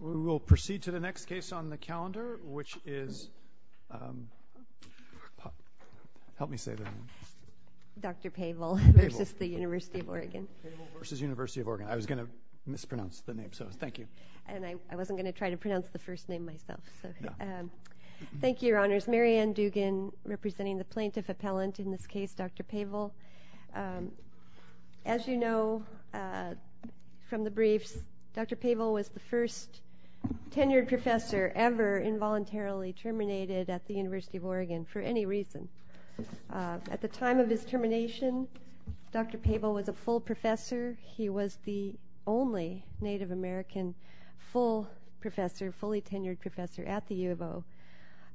We will proceed to the next case on the calendar, which is Dr. Pavel v. University of Oregon. I was going to mispronounce the name, so thank you. I wasn't going to try to pronounce the first name myself. Thank you, Your Honors. Mary Ann Dugan, representing the plaintiff appellant in this case, Dr. Pavel. As you know from the briefs, Dr. Pavel was the first tenured professor ever involuntarily terminated at the University of Oregon for any reason. At the time of his termination, Dr. Pavel was a full professor. He was the only Native American full professor, fully tenured professor at the U of O.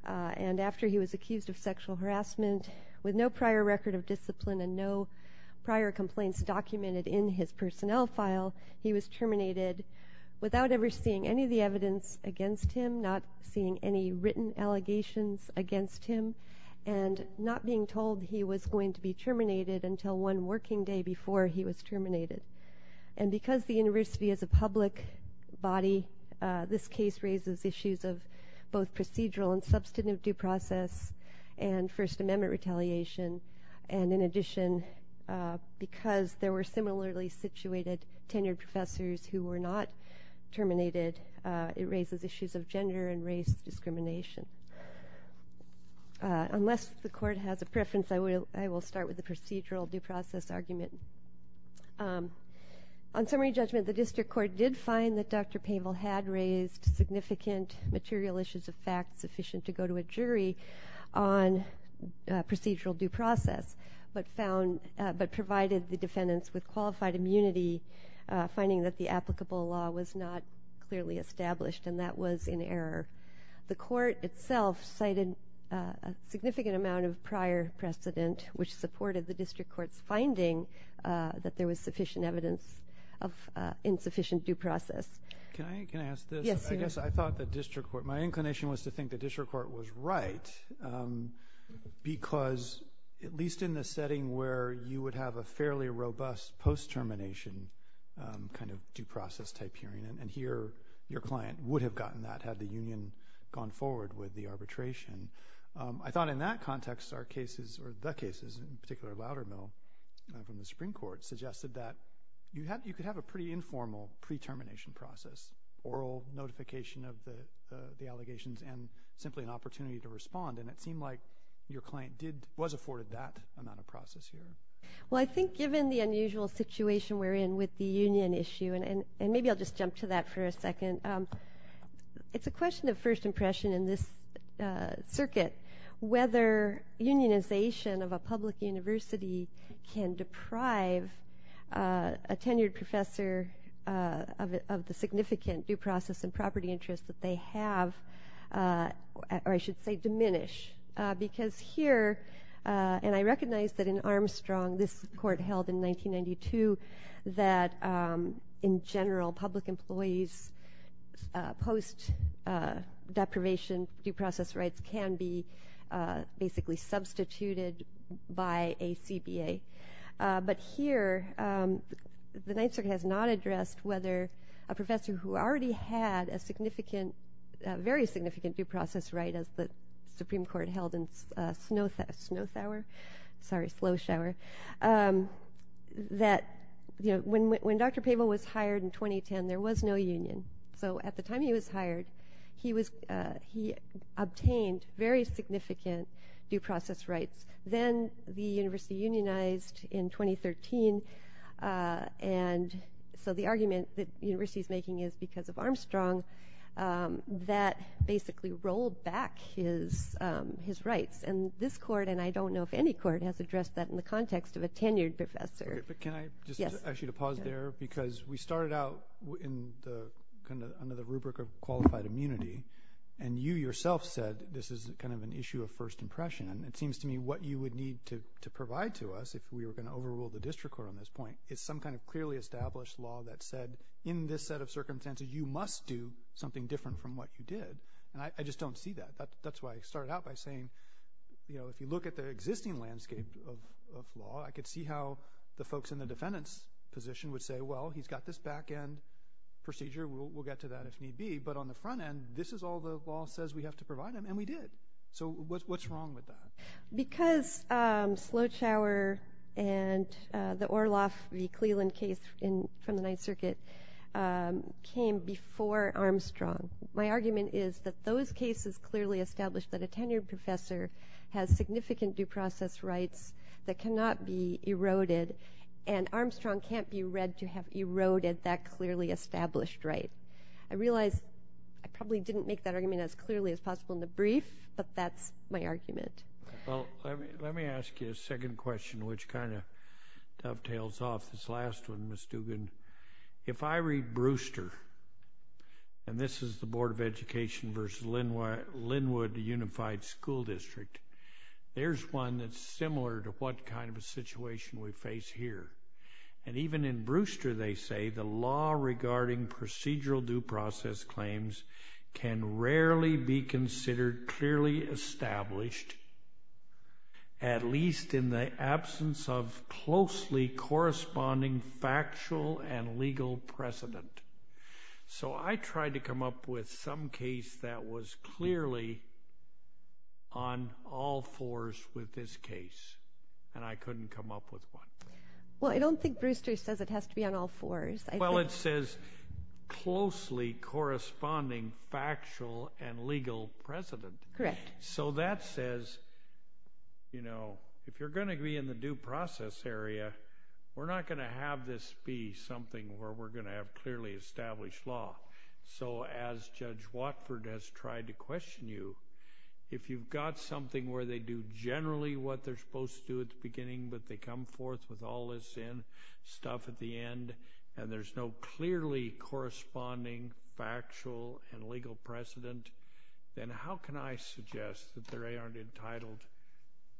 And after he was accused of sexual harassment with no prior record of discipline and no prior complaints documented in his personnel file, he was terminated without ever seeing any of the evidence against him, not seeing any written allegations against him, and not being told he was going to be terminated until one working day before he was terminated. And because the university is a public body, this case raises issues of both procedural and substantive due process and First Amendment retaliation. And in addition, because there were similarly situated tenured professors who were not terminated, it raises issues of gender and race discrimination. Unless the court has a preference, I will start with the procedural due process argument. On summary judgment, the district court did find that Dr. Pavel had raised significant material issues of fact sufficient to go to a jury on procedural due process, but provided the defendants with qualified immunity, finding that the applicable law was not clearly established, and that was in error. The court itself cited a significant amount of prior precedent, which supported the district court's finding that there was sufficient evidence of insufficient due process. Can I ask this? Yes, you may. I guess I thought the district court, my inclination was to think the district court was right, because at least in the setting where you would have a fairly robust post-termination kind of due process type hearing, and here your client would have gotten that had the union gone forward with the arbitration, I thought in that context our cases, or the cases in particular of Loudermill from the Supreme Court, suggested that you could have a pretty informal pre-termination process, oral notification of the allegations and simply an opportunity to respond, and it seemed like your client was afforded that amount of process here. Well, I think given the unusual situation we're in with the union issue, and maybe I'll just jump to that for a second, it's a question of first impression in this circuit whether unionization of a public university can deprive a tenured professor of the significant due process and property interests that they have, or I should say diminish, because here, and I recognize that in Armstrong, this court held in 1992, that in general public employees post-deprivation due process rights can be basically substituted by a CBA, but here the Ninth Circuit has not addressed whether a professor who already had a significant, a very significant due process right as the Supreme Court held in Snowthour, sorry, Sloshour, that when Dr. Pavel was hired in 2010, there was no union. So at the time he was hired, he obtained very significant due process rights. Then the university unionized in 2013, and so the argument that the university is making is because of Armstrong that basically rolled back his rights, and this court, and I don't know if any court has addressed that in the context of a tenured professor. But can I just ask you to pause there, because we started out under the rubric of qualified immunity, and you yourself said this is kind of an issue of first impression. It seems to me what you would need to provide to us if we were going to overrule the district court on this point is some kind of clearly established law that said in this set of circumstances, you must do something different from what you did, and I just don't see that. That's why I started out by saying if you look at the existing landscape of law, I could see how the folks in the defendant's position would say, well, he's got this back-end procedure. We'll get to that if need be, but on the front end, this is all the law says we have to provide him, and we did. So what's wrong with that? Because Slowchower and the Orloff v. Cleland case from the Ninth Circuit came before Armstrong, my argument is that those cases clearly established that a tenured professor has significant due process rights that cannot be eroded, and Armstrong can't be read to have eroded that clearly established right. I realize I probably didn't make that argument as clearly as possible in the brief, but that's my argument. Well, let me ask you a second question, which kind of dovetails off this last one, Ms. Dugan. If I read Brewster, and this is the Board of Education v. Linwood Unified School District, there's one that's similar to what kind of a situation we face here, and even in Brewster, they say the law regarding procedural due process claims can rarely be considered clearly established, at least in the absence of closely corresponding factual and legal precedent. So I tried to come up with some case that was clearly on all fours with this case, and I couldn't come up with one. Well, I don't think Brewster says it has to be on all fours. Well, it says closely corresponding factual and legal precedent. Correct. So that says, you know, if you're going to be in the due process area, we're not going to have this be something where we're going to have clearly established law. So as Judge Watford has tried to question you, if you've got something where they do generally what they're supposed to do at the beginning, but they come forth with all this stuff at the end, and there's no clearly corresponding factual and legal precedent, then how can I suggest that they aren't entitled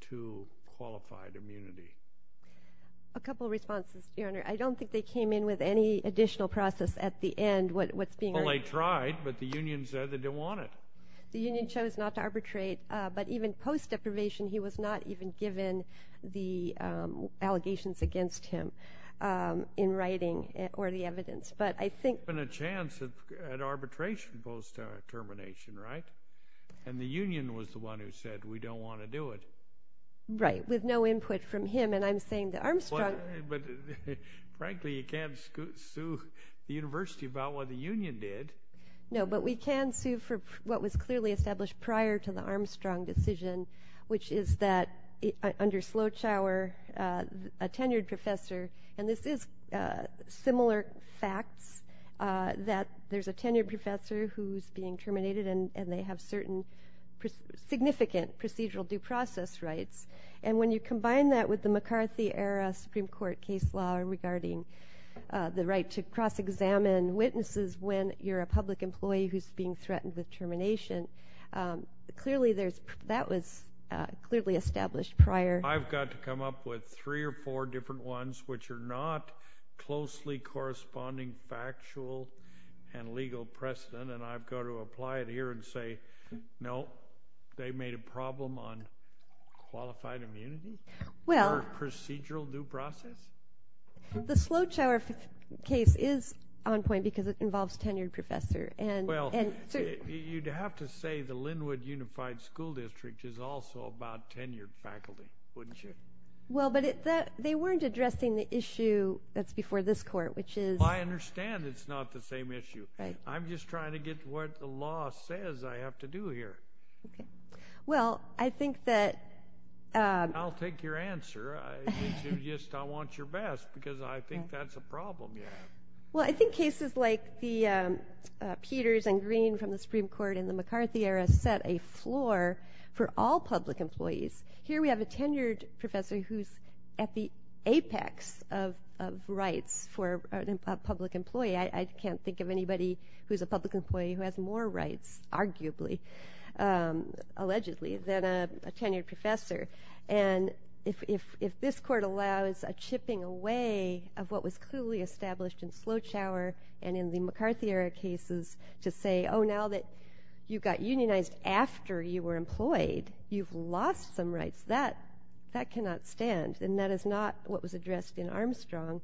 to qualified immunity? A couple of responses, Your Honor. I don't think they came in with any additional process at the end. Well, they tried, but the union said they didn't want it. The union chose not to arbitrate, but even post-deprivation, he was not even given the allegations against him in writing or the evidence. But I think— There's been a chance at arbitration post-termination, right? And the union was the one who said, we don't want to do it. Right, with no input from him, and I'm saying that Armstrong— But, frankly, you can't sue the university about what the union did. No, but we can sue for what was clearly established prior to the Armstrong decision, which is that under Slowchower, a tenured professor, and this is similar facts that there's a tenured professor who's being terminated and they have certain significant procedural due process rights. And when you combine that with the McCarthy-era Supreme Court case law regarding the right to cross-examine witnesses when you're a public employee who's being threatened with termination, that was clearly established prior. I've got to come up with three or four different ones which are not closely corresponding factual and legal precedent, and I've got to apply it here and say, no, they made a problem on qualified immunity or procedural due process. The Slowchower case is on point because it involves a tenured professor. Well, you'd have to say the Linwood Unified School District is also about tenured faculty, wouldn't you? Well, but they weren't addressing the issue that's before this court, which is— I understand it's not the same issue. I'm just trying to get what the law says I have to do here. Well, I think that— I'll take your answer. It's just I want your best because I think that's a problem you have. Well, I think cases like the Peters and Green from the Supreme Court in the McCarthy era set a floor for all public employees. Here we have a tenured professor who's at the apex of rights for a public employee. I can't think of anybody who's a public employee who has more rights, arguably, allegedly, than a tenured professor. And if this court allows a chipping away of what was clearly established in Slowchower and in the McCarthy era cases to say, oh, now that you got unionized after you were employed, you've lost some rights, that cannot stand, and that is not what was addressed in Armstrong.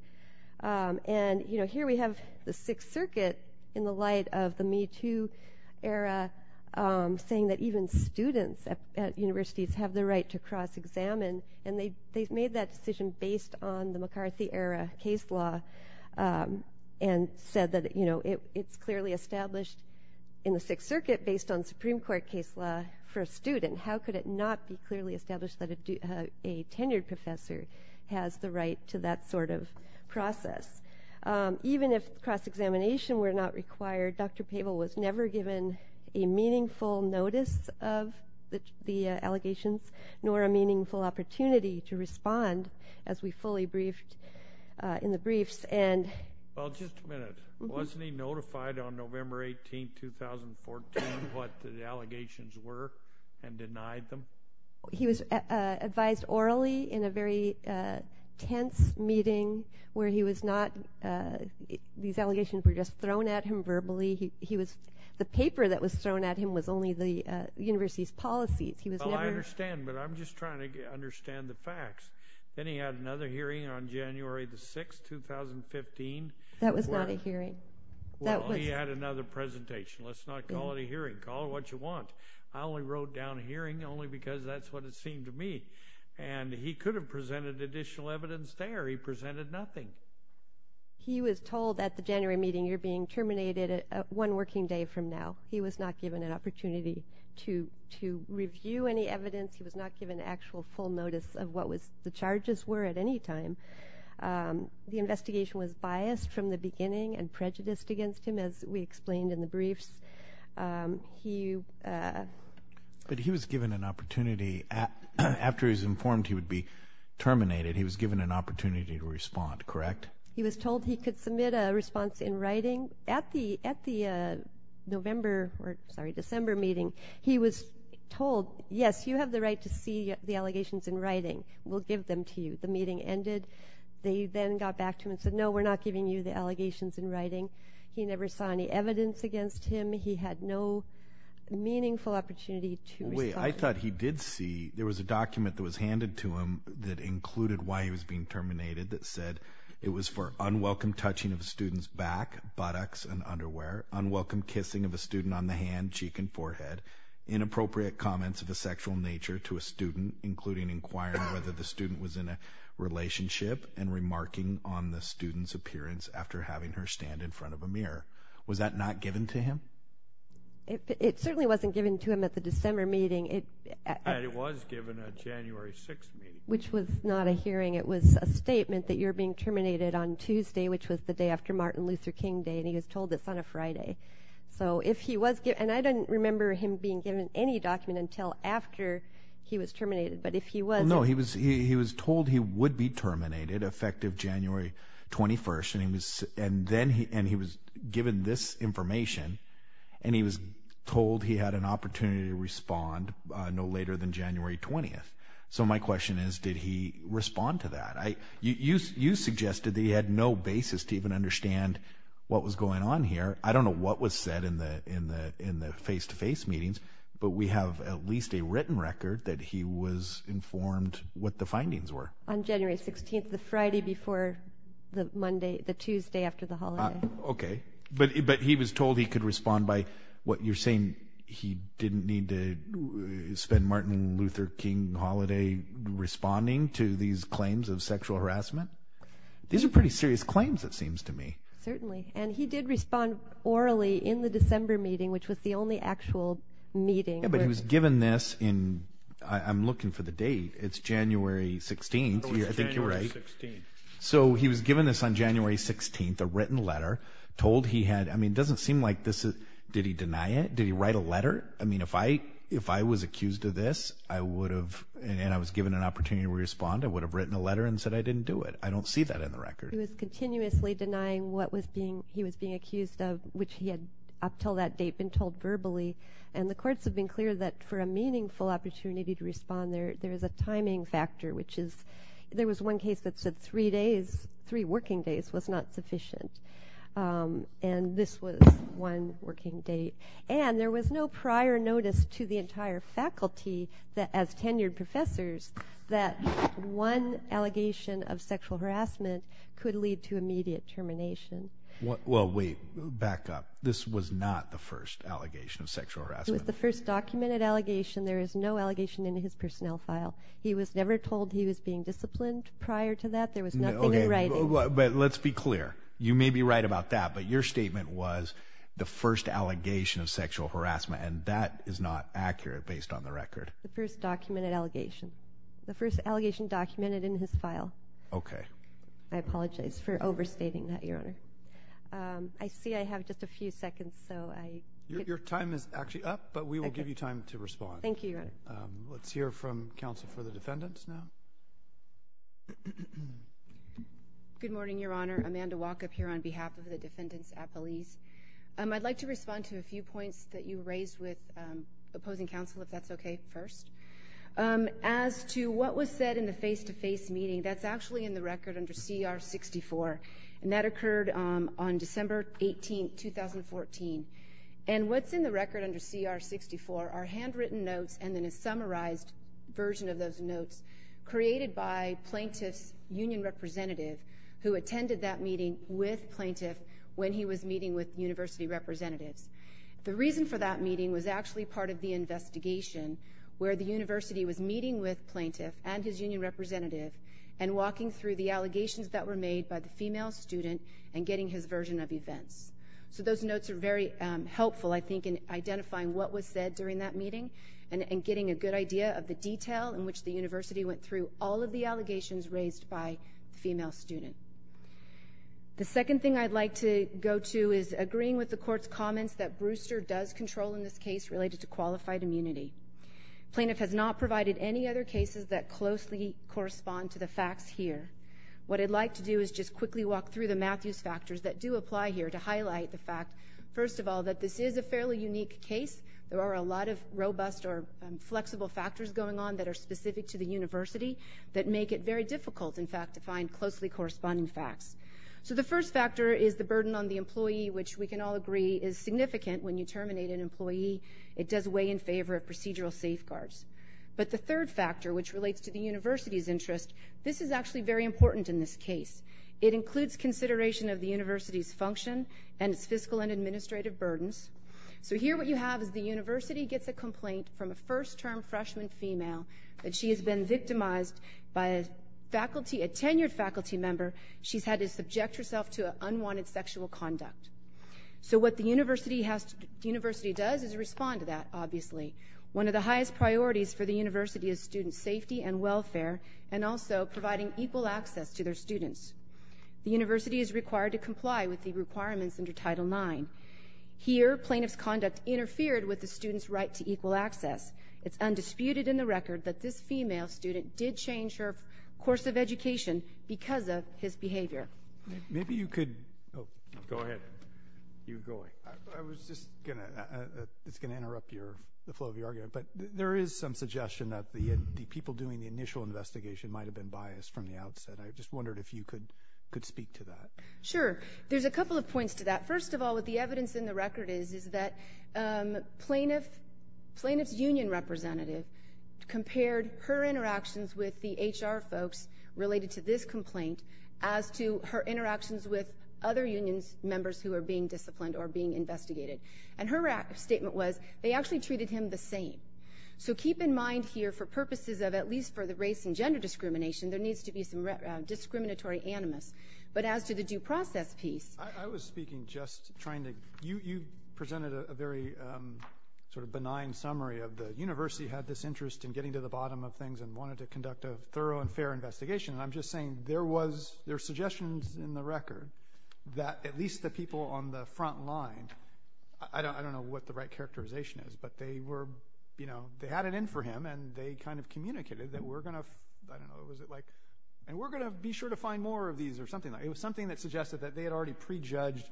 And here we have the Sixth Circuit in the light of the Me Too era saying that even students at universities have the right to cross-examine, and they've made that decision based on the McCarthy era case law and said that it's clearly established in the Sixth Circuit based on Supreme Court case law for a student. How could it not be clearly established that a tenured professor has the right to that sort of process? Even if cross-examination were not required, Dr. Pavel was never given a meaningful notice of the allegations nor a meaningful opportunity to respond as we fully briefed in the briefs. Well, just a minute. Wasn't he notified on November 18, 2014, what the allegations were and denied them? He was advised orally in a very tense meeting where he was not— these allegations were just thrown at him verbally. He was—the paper that was thrown at him was only the university's policies. He was never— Well, I understand, but I'm just trying to understand the facts. Then he had another hearing on January the 6th, 2015. That was not a hearing. Well, he had another presentation. Let's not call it a hearing. Call it what you want. I only wrote down a hearing only because that's what it seemed to me. And he could have presented additional evidence there. He presented nothing. He was told at the January meeting, you're being terminated one working day from now. He was not given an opportunity to review any evidence. He was not given actual full notice of what the charges were at any time. The investigation was biased from the beginning and prejudiced against him, as we explained in the briefs. But he was given an opportunity after he was informed he would be terminated. He was given an opportunity to respond, correct? He was told he could submit a response in writing. At the November—or, sorry, December meeting, he was told, yes, you have the right to see the allegations in writing. We'll give them to you. The meeting ended. They then got back to him and said, no, we're not giving you the allegations in writing. He never saw any evidence against him. He had no meaningful opportunity to respond. Wait, I thought he did see— there was a document that was handed to him that included why he was being terminated that said it was for unwelcome touching of a student's back, buttocks, and underwear, unwelcome kissing of a student on the hand, cheek, and forehead, inappropriate comments of a sexual nature to a student, including inquiring whether the student was in a relationship and remarking on the student's appearance after having her stand in front of a mirror. Was that not given to him? It certainly wasn't given to him at the December meeting. And it was given at January 6th meeting. Which was not a hearing. It was a statement that you're being terminated on Tuesday, which was the day after Martin Luther King Day, and he was told it's on a Friday. So if he was—and I don't remember him being given any document until after he was terminated, but if he was— No, he was told he would be terminated, effective January 21st, and he was given this information, and he was told he had an opportunity to respond no later than January 20th. So my question is, did he respond to that? You suggested that he had no basis to even understand what was going on here. I don't know what was said in the face-to-face meetings, but we have at least a written record that he was informed what the findings were. On January 16th, the Friday before the Tuesday after the holiday. Okay. But he was told he could respond by— you're saying he didn't need to spend Martin Luther King holiday responding to these claims of sexual harassment? These are pretty serious claims, it seems to me. Certainly. And he did respond orally in the December meeting, which was the only actual meeting. Yeah, but he was given this in—I'm looking for the date. It's January 16th. I think you're right. It was January 16th. So he was given this on January 16th, a written letter, told he had— I mean, it doesn't seem like this is—did he deny it? Did he write a letter? I mean, if I was accused of this, I would have—and I was given an opportunity to respond, I would have written a letter and said I didn't do it. I don't see that in the record. He was continuously denying what he was being accused of, which he had up until that date been told verbally. And the courts have been clear that for a meaningful opportunity to respond, there is a timing factor, which is— there was one case that said three working days was not sufficient, and this was one working day. And there was no prior notice to the entire faculty as tenured professors that one allegation of sexual harassment could lead to immediate termination. Well, wait. Back up. This was not the first allegation of sexual harassment. It was the first documented allegation. There is no allegation in his personnel file. He was never told he was being disciplined prior to that. There was nothing in writing. But let's be clear. You may be right about that, but your statement was the first allegation of sexual harassment, and that is not accurate based on the record. The first documented allegation. The first allegation documented in his file. Okay. I apologize for overstating that, Your Honor. I see I have just a few seconds, so I— Your time is actually up, but we will give you time to respond. Thank you, Your Honor. Let's hear from counsel for the defendants now. Good morning, Your Honor. Amanda Walkup here on behalf of the defendants at Belize. I'd like to respond to a few points that you raised with opposing counsel, if that's okay, first. As to what was said in the face-to-face meeting, that's actually in the record under CR 64, and that occurred on December 18, 2014. And what's in the record under CR 64 are handwritten notes and then a summarized version of those notes created by plaintiff's union representative who attended that meeting with plaintiff when he was meeting with university representatives. The reason for that meeting was actually part of the investigation where the university was meeting with plaintiff and his union representative and walking through the allegations that were made by the female student and getting his version of events. So those notes are very helpful, I think, in identifying what was said during that meeting and getting a good idea of the detail in which the university went through all of the allegations raised by the female student. The second thing I'd like to go to is agreeing with the Court's comments that Brewster does control in this case related to qualified immunity. Plaintiff has not provided any other cases that closely correspond to the facts here. What I'd like to do is just quickly walk through the math use factors that do apply here to highlight the fact, first of all, that this is a fairly unique case. There are a lot of robust or flexible factors going on that are specific to the university that make it very difficult, in fact, to find closely corresponding facts. So the first factor is the burden on the employee, which we can all agree is significant. When you terminate an employee, it does weigh in favor of procedural safeguards. But the third factor, which relates to the university's interest, this is actually very important in this case. It includes consideration of the university's function and its fiscal and administrative burdens. So here what you have is the university gets a complaint from a first-term freshman female that she has been victimized by a tenured faculty member. She's had to subject herself to unwanted sexual conduct. So what the university does is respond to that, obviously. One of the highest priorities for the university is student safety and welfare and also providing equal access to their students. The university is required to comply with the requirements under Title IX. Here, plaintiff's conduct interfered with the student's right to equal access. It's undisputed in the record that this female student did change her course of education because of his behavior. Maybe you could go ahead. I was just going to interrupt the flow of your argument, but there is some suggestion that the people doing the initial investigation might have been biased from the outset. I just wondered if you could speak to that. Sure. There's a couple of points to that. First of all, what the evidence in the record is is that plaintiff's union representative compared her interactions with the HR folks related to this complaint as to her interactions with other union members who are being disciplined or being investigated. And her statement was they actually treated him the same. So keep in mind here, for purposes of at least for the race and gender discrimination, there needs to be some discriminatory animus. But as to the due process piece. I was speaking just trying to. You presented a very sort of benign summary of the university had this interest in getting to the bottom of things and wanted to conduct a thorough and fair investigation. And I'm just saying there were suggestions in the record that at least the people on the front line, I don't know what the right characterization is, but they were, you know, they had it in for him and they kind of communicated that we're going to, I don't know, and we're going to be sure to find more of these or something like that. But it was something that suggested that they had already prejudged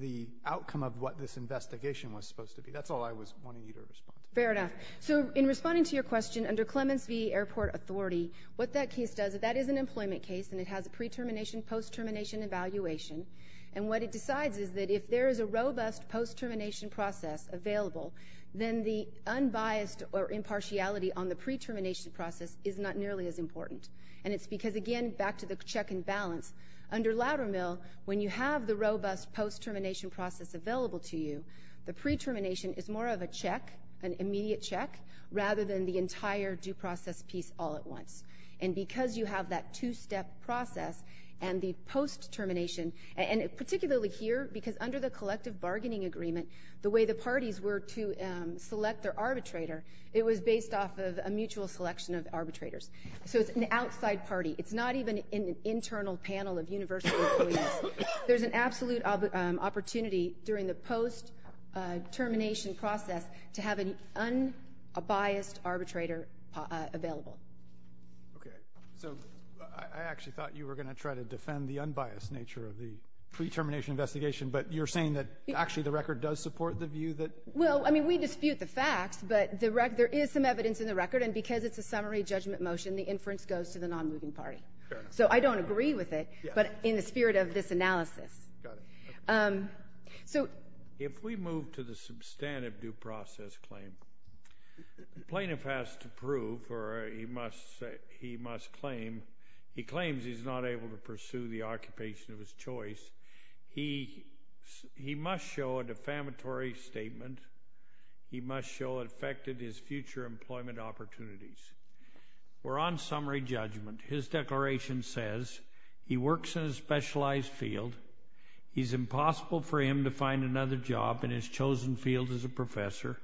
the outcome of what this investigation was supposed to be. That's all I was wanting you to respond to. Fair enough. So in responding to your question, under Clemens v. Airport Authority, what that case does, that is an employment case and it has a pre-termination, post-termination evaluation. And what it decides is that if there is a robust post-termination process available, then the unbiased or impartiality on the pre-termination process is not nearly as important. And it's because, again, back to the check and balance, under Loudermill, when you have the robust post-termination process available to you, the pre-termination is more of a check, an immediate check, rather than the entire due process piece all at once. And because you have that two-step process and the post-termination, and particularly here because under the collective bargaining agreement, the way the parties were to select their arbitrator, it was based off of a mutual selection of arbitrators. So it's an outside party. It's not even in an internal panel of universal employees. There's an absolute opportunity during the post-termination process to have an unbiased arbitrator available. Okay. So I actually thought you were going to try to defend the unbiased nature of the pre-termination investigation, but you're saying that actually the record does support the view that — Well, I mean, we dispute the facts, but there is some evidence in the record, and because it's a summary judgment motion, the inference goes to the non-moving party. Fair enough. So I don't agree with it, but in the spirit of this analysis. Got it. So — If we move to the substantive due process claim, the plaintiff has to prove or he must claim he claims he's not able to pursue the occupation of his choice. He must show a defamatory statement. He must show it affected his future employment opportunities. We're on summary judgment. His declaration says he works in a specialized field. It's impossible for him to find another job in his chosen field as a professor.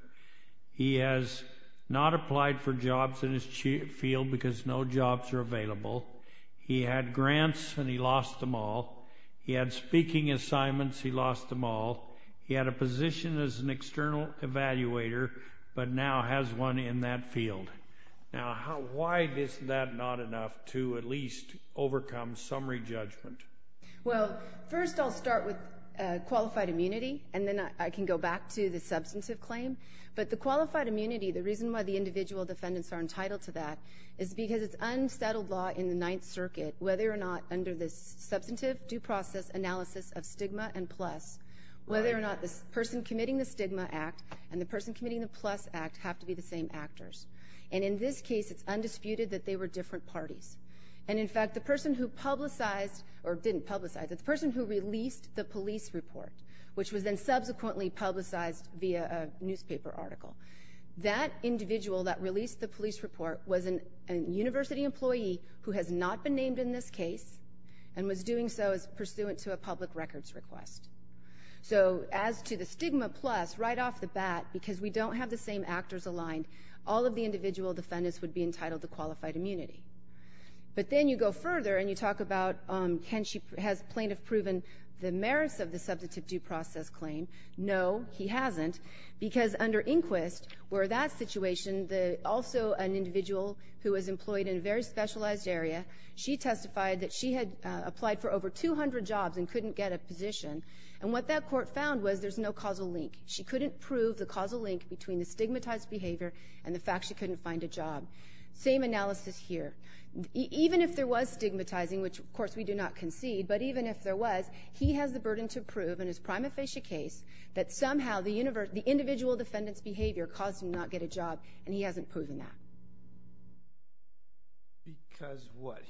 He has not applied for jobs in his field because no jobs are available. He had grants, and he lost them all. He had speaking assignments. He lost them all. He had a position as an external evaluator, but now has one in that field. Now, why is that not enough to at least overcome summary judgment? Well, first I'll start with qualified immunity, and then I can go back to the substantive claim. But the qualified immunity, the reason why the individual defendants are entitled to that, is because it's unsettled law in the Ninth Circuit, whether or not under this substantive due process analysis of stigma and plus, whether or not the person committing the stigma act and the person committing the plus act have to be the same actors. And in this case, it's undisputed that they were different parties. And, in fact, the person who publicized or didn't publicize it, the person who released the police report, which was then subsequently publicized via a newspaper article, that individual that released the police report was a university employee who has not been named in this case and was doing so pursuant to a public records request. So as to the stigma plus, right off the bat, because we don't have the same actors aligned, all of the individual defendants would be entitled to qualified immunity. But then you go further, and you talk about has plaintiff proven the merits of the substantive due process claim? No, he hasn't. Because under Inquist, where that situation, also an individual who was employed in a very specialized area, she testified that she had applied for over 200 jobs and couldn't get a position. And what that court found was there's no causal link. She couldn't prove the causal link between the stigmatized behavior and the fact she couldn't find a job. Same analysis here. Even if there was stigmatizing, which, of course, we do not concede, but even if there was, he has the burden to prove in his prima facie case that somehow the individual defendant's behavior caused him to not get a job, and he hasn't proven that. Because what?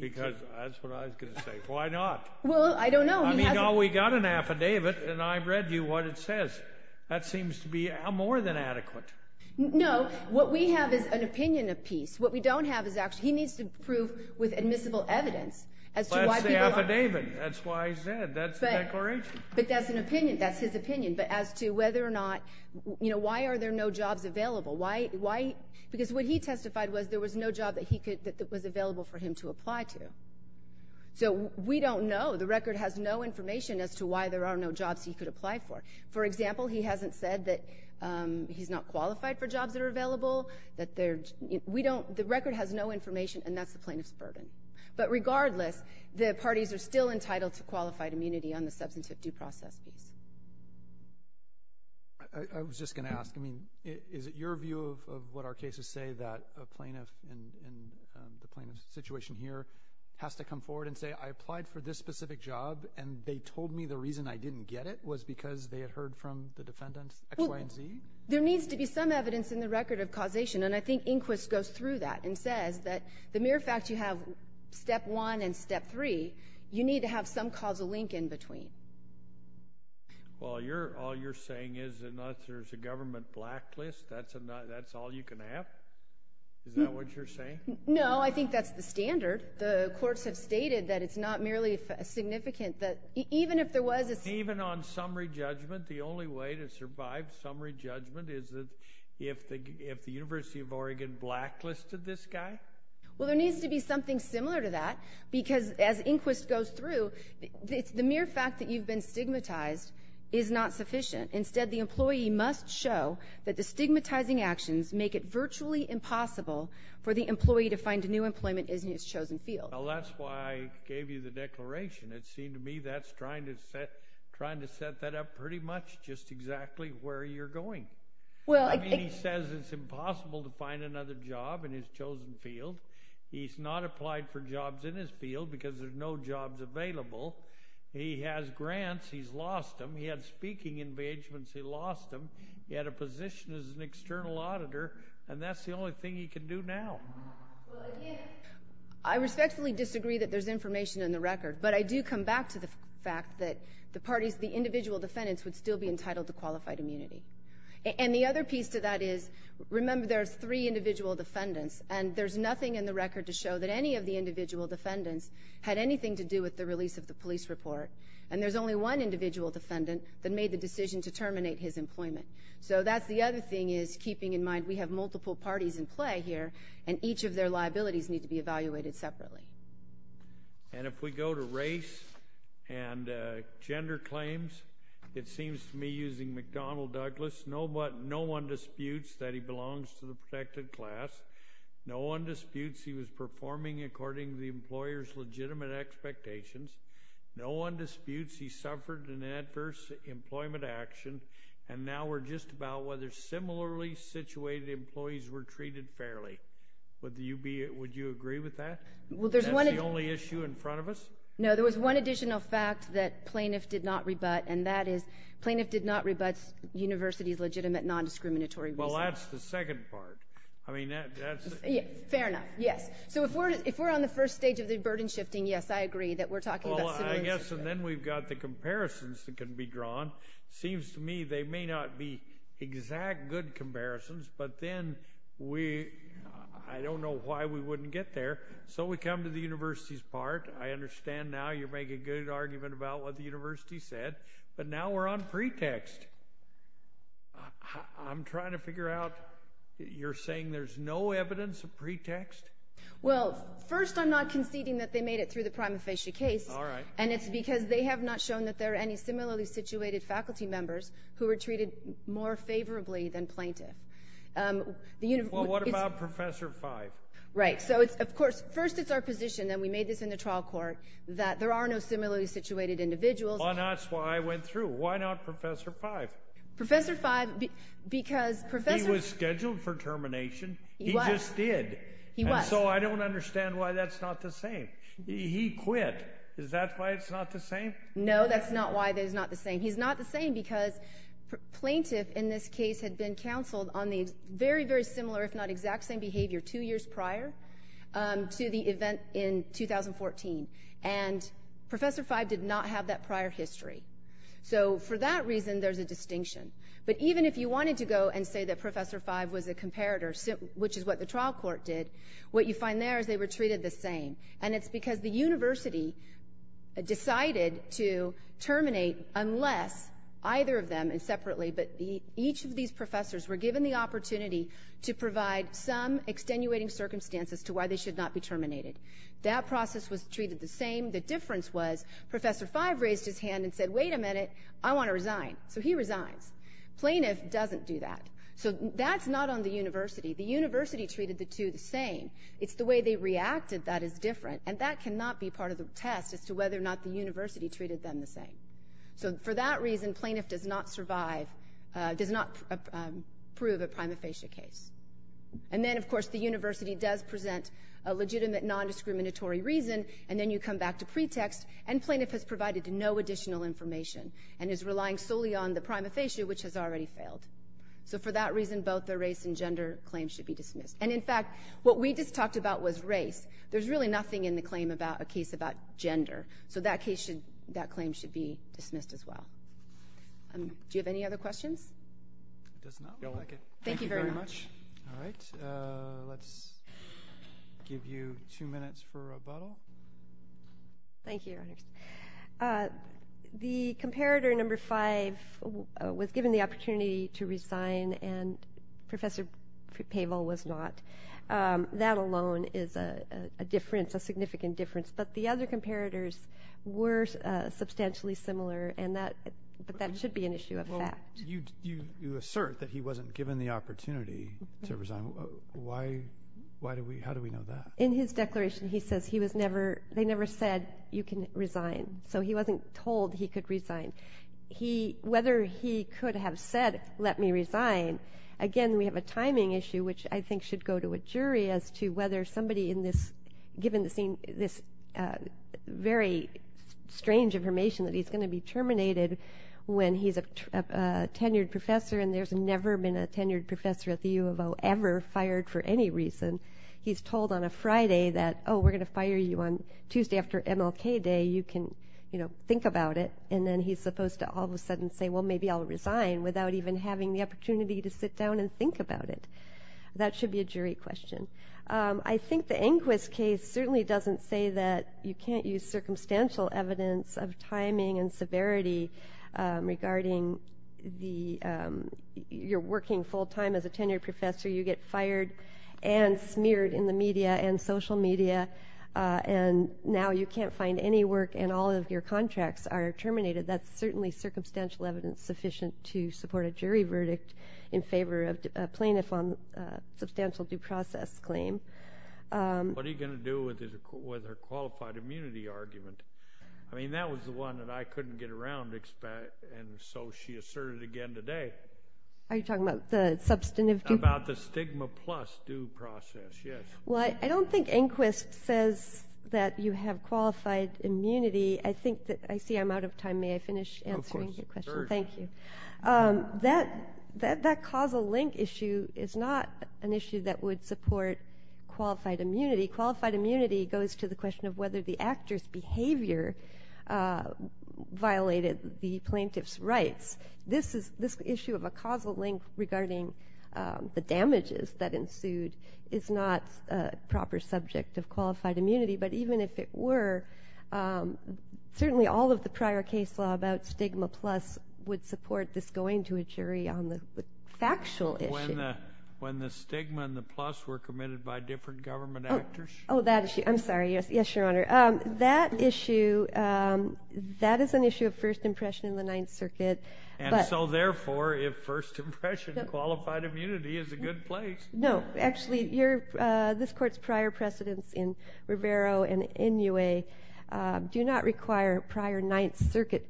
Because that's what I was going to say. Why not? Well, I don't know. I mean, we've got an affidavit, and I've read you what it says. That seems to be more than adequate. No, what we have is an opinion of peace. What we don't have is actually he needs to prove with admissible evidence as to why people... But that's an opinion. That's his opinion. But as to whether or not, you know, why are there no jobs available? Why? Because what he testified was there was no job that was available for him to apply to. So we don't know. The record has no information as to why there are no jobs he could apply for. For example, he hasn't said that he's not qualified for jobs that are available. The record has no information, and that's the plaintiff's burden. But regardless, the parties are still entitled to qualified immunity on the substantive due process piece. I was just going to ask, I mean, is it your view of what our cases say that a plaintiff and the plaintiff's situation here has to come forward and say, I applied for this specific job, and they told me the reason I didn't get it was because they had heard from the defendants X, Y, and Z? There needs to be some evidence in the record of causation, and I think Inquist goes through that and says that the mere fact you have Step 1 and Step 3, you need to have some causal link in between. Well, all you're saying is that unless there's a government blacklist, that's all you can have? Is that what you're saying? No, I think that's the standard. The courts have stated that it's not merely significant that even if there was a… Even on summary judgment, the only way to survive summary judgment is if the University of Oregon blacklisted this guy? Well, there needs to be something similar to that, because as Inquist goes through, the mere fact that you've been stigmatized is not sufficient. Instead, the employee must show that the stigmatizing actions make it virtually impossible for the employee to find a new employment in his chosen field. Well, that's why I gave you the declaration. It seemed to me that's trying to set that up pretty much just exactly where you're going. I mean, he says it's impossible to find another job in his chosen field. He's not applied for jobs in his field because there's no jobs available. He has grants. He's lost them. He had speaking engagements. He lost them. He had a position as an external auditor, and that's the only thing he can do now. Well, again, I respectfully disagree that there's information in the record, but I do come back to the fact that the parties, the individual defendants, would still be entitled to qualified immunity. And the other piece to that is, remember, there's three individual defendants, and there's nothing in the record to show that any of the individual defendants had anything to do with the release of the police report, and there's only one individual defendant that made the decision to terminate his employment. So that's the other thing is keeping in mind we have multiple parties in play here and each of their liabilities need to be evaluated separately. And if we go to race and gender claims, it seems to me, using McDonnell Douglas, no one disputes that he belongs to the protected class. No one disputes he was performing according to the employer's legitimate expectations. No one disputes he suffered an adverse employment action. And now we're just about whether similarly situated employees were treated fairly. Would you agree with that? That's the only issue in front of us? No, there was one additional fact that plaintiff did not rebut, and that is plaintiff did not rebut university's legitimate nondiscriminatory reasons. Well, that's the second part. Fair enough, yes. So if we're on the first stage of the burden shifting, yes, I agree that we're talking about similar things. Well, I guess then we've got the comparisons that can be drawn. It seems to me they may not be exact good comparisons, but then I don't know why we wouldn't get there. So we come to the university's part. I understand now you're making a good argument about what the university said, but now we're on pretext. I'm trying to figure out, you're saying there's no evidence of pretext? Well, first I'm not conceding that they made it through the prima facie case, and it's because they have not shown that there are any similarly situated faculty members who were treated more favorably than plaintiff. Well, what about Professor Fyfe? Right. So, of course, first it's our position, and we made this in the trial court, that there are no similarly situated individuals. Well, that's why I went through. Why not Professor Fyfe? Professor Fyfe, because Professor He was scheduled for termination. He was. He just did. He was. And so I don't understand why that's not the same. He quit. Is that why it's not the same? No, that's not why it's not the same. He's not the same because plaintiff in this case had been counseled on the very, very similar, if not exact same behavior two years prior to the event in 2014, and Professor Fyfe did not have that prior history. So for that reason, there's a distinction. But even if you wanted to go and say that Professor Fyfe was a comparator, which is what the trial court did, what you find there is they were treated the same, and it's because the university decided to terminate unless either of them, and separately, but each of these professors were given the opportunity to provide some extenuating circumstances to why they should not be terminated. That process was treated the same. The difference was Professor Fyfe raised his hand and said, wait a minute, I want to resign. So he resigns. Plaintiff doesn't do that. So that's not on the university. The university treated the two the same. It's the way they reacted that is different, and that cannot be part of the test as to whether or not the university treated them the same. So for that reason, plaintiff does not survive, does not prove a prima facie case. And then, of course, the university does present a legitimate nondiscriminatory reason, and then you come back to pretext, and plaintiff has provided no additional information and is relying solely on the prima facie, which has already failed. So for that reason, both the race and gender claims should be dismissed. And, in fact, what we just talked about was race. There's really nothing in the claim about a case about gender. So that claim should be dismissed as well. Do you have any other questions? It does not. Thank you very much. All right. Let's give you two minutes for rebuttal. The comparator number five was given the opportunity to resign, and Professor Pavel was not. That alone is a difference, a significant difference. But the other comparators were substantially similar, but that should be an issue of fact. You assert that he wasn't given the opportunity to resign. How do we know that? In his declaration, he says they never said, you can resign. So he wasn't told he could resign. Whether he could have said, let me resign, again, we have a timing issue, which I think should go to a jury as to whether somebody in this, given this very strange information that he's going to be terminated when he's a tenured professor and there's never been a tenured professor at the U of O ever fired for any reason. He's told on a Friday that, oh, we're going to fire you on Tuesday after MLK Day. You can, you know, think about it. And then he's supposed to all of a sudden say, well, maybe I'll resign without even having the opportunity to sit down and think about it. That should be a jury question. I think the Inquis case certainly doesn't say that you can't use circumstantial evidence of timing and severity regarding your working full time as a tenured professor. You get fired and smeared in the media and social media, and now you can't find any work and all of your contracts are terminated. That's certainly circumstantial evidence sufficient to support a jury verdict in favor of a plaintiff on substantial due process claim. What are you going to do with her qualified immunity argument? I mean, that was the one that I couldn't get around, and so she asserted again today. Are you talking about the substantive? About the stigma plus due process, yes. Well, I don't think Inquis says that you have qualified immunity. I think that I see I'm out of time. May I finish answering your question? Of course. Thank you. That causal link issue is not an issue that would support qualified immunity. Qualified immunity goes to the question of whether the actor's behavior violated the plaintiff's rights. This issue of a causal link regarding the damages that ensued is not a proper subject of qualified immunity, but even if it were, certainly all of the prior case law about stigma plus would support this going to a jury on the factual issue. When the stigma and the plus were committed by different government actors? Oh, that issue. I'm sorry. Yes, Your Honor. That issue, that is an issue of first impression in the Ninth Circuit. And so, therefore, if first impression, qualified immunity is a good place. No. Actually, this Court's prior precedents in Rivero and Inouye do not require prior Ninth Circuit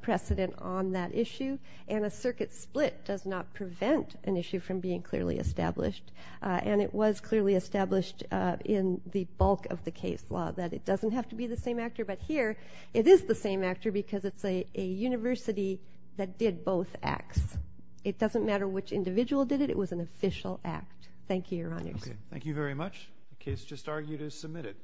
precedent on that issue, and a circuit split does not prevent an issue from being clearly established, and it was clearly established in the bulk of the case law that it doesn't have to be the same actor. But here, it is the same actor because it's a university that did both acts. It doesn't matter which individual did it. It was an official act. Thank you, Your Honors. Okay. Thank you very much. The case just argued is submitted.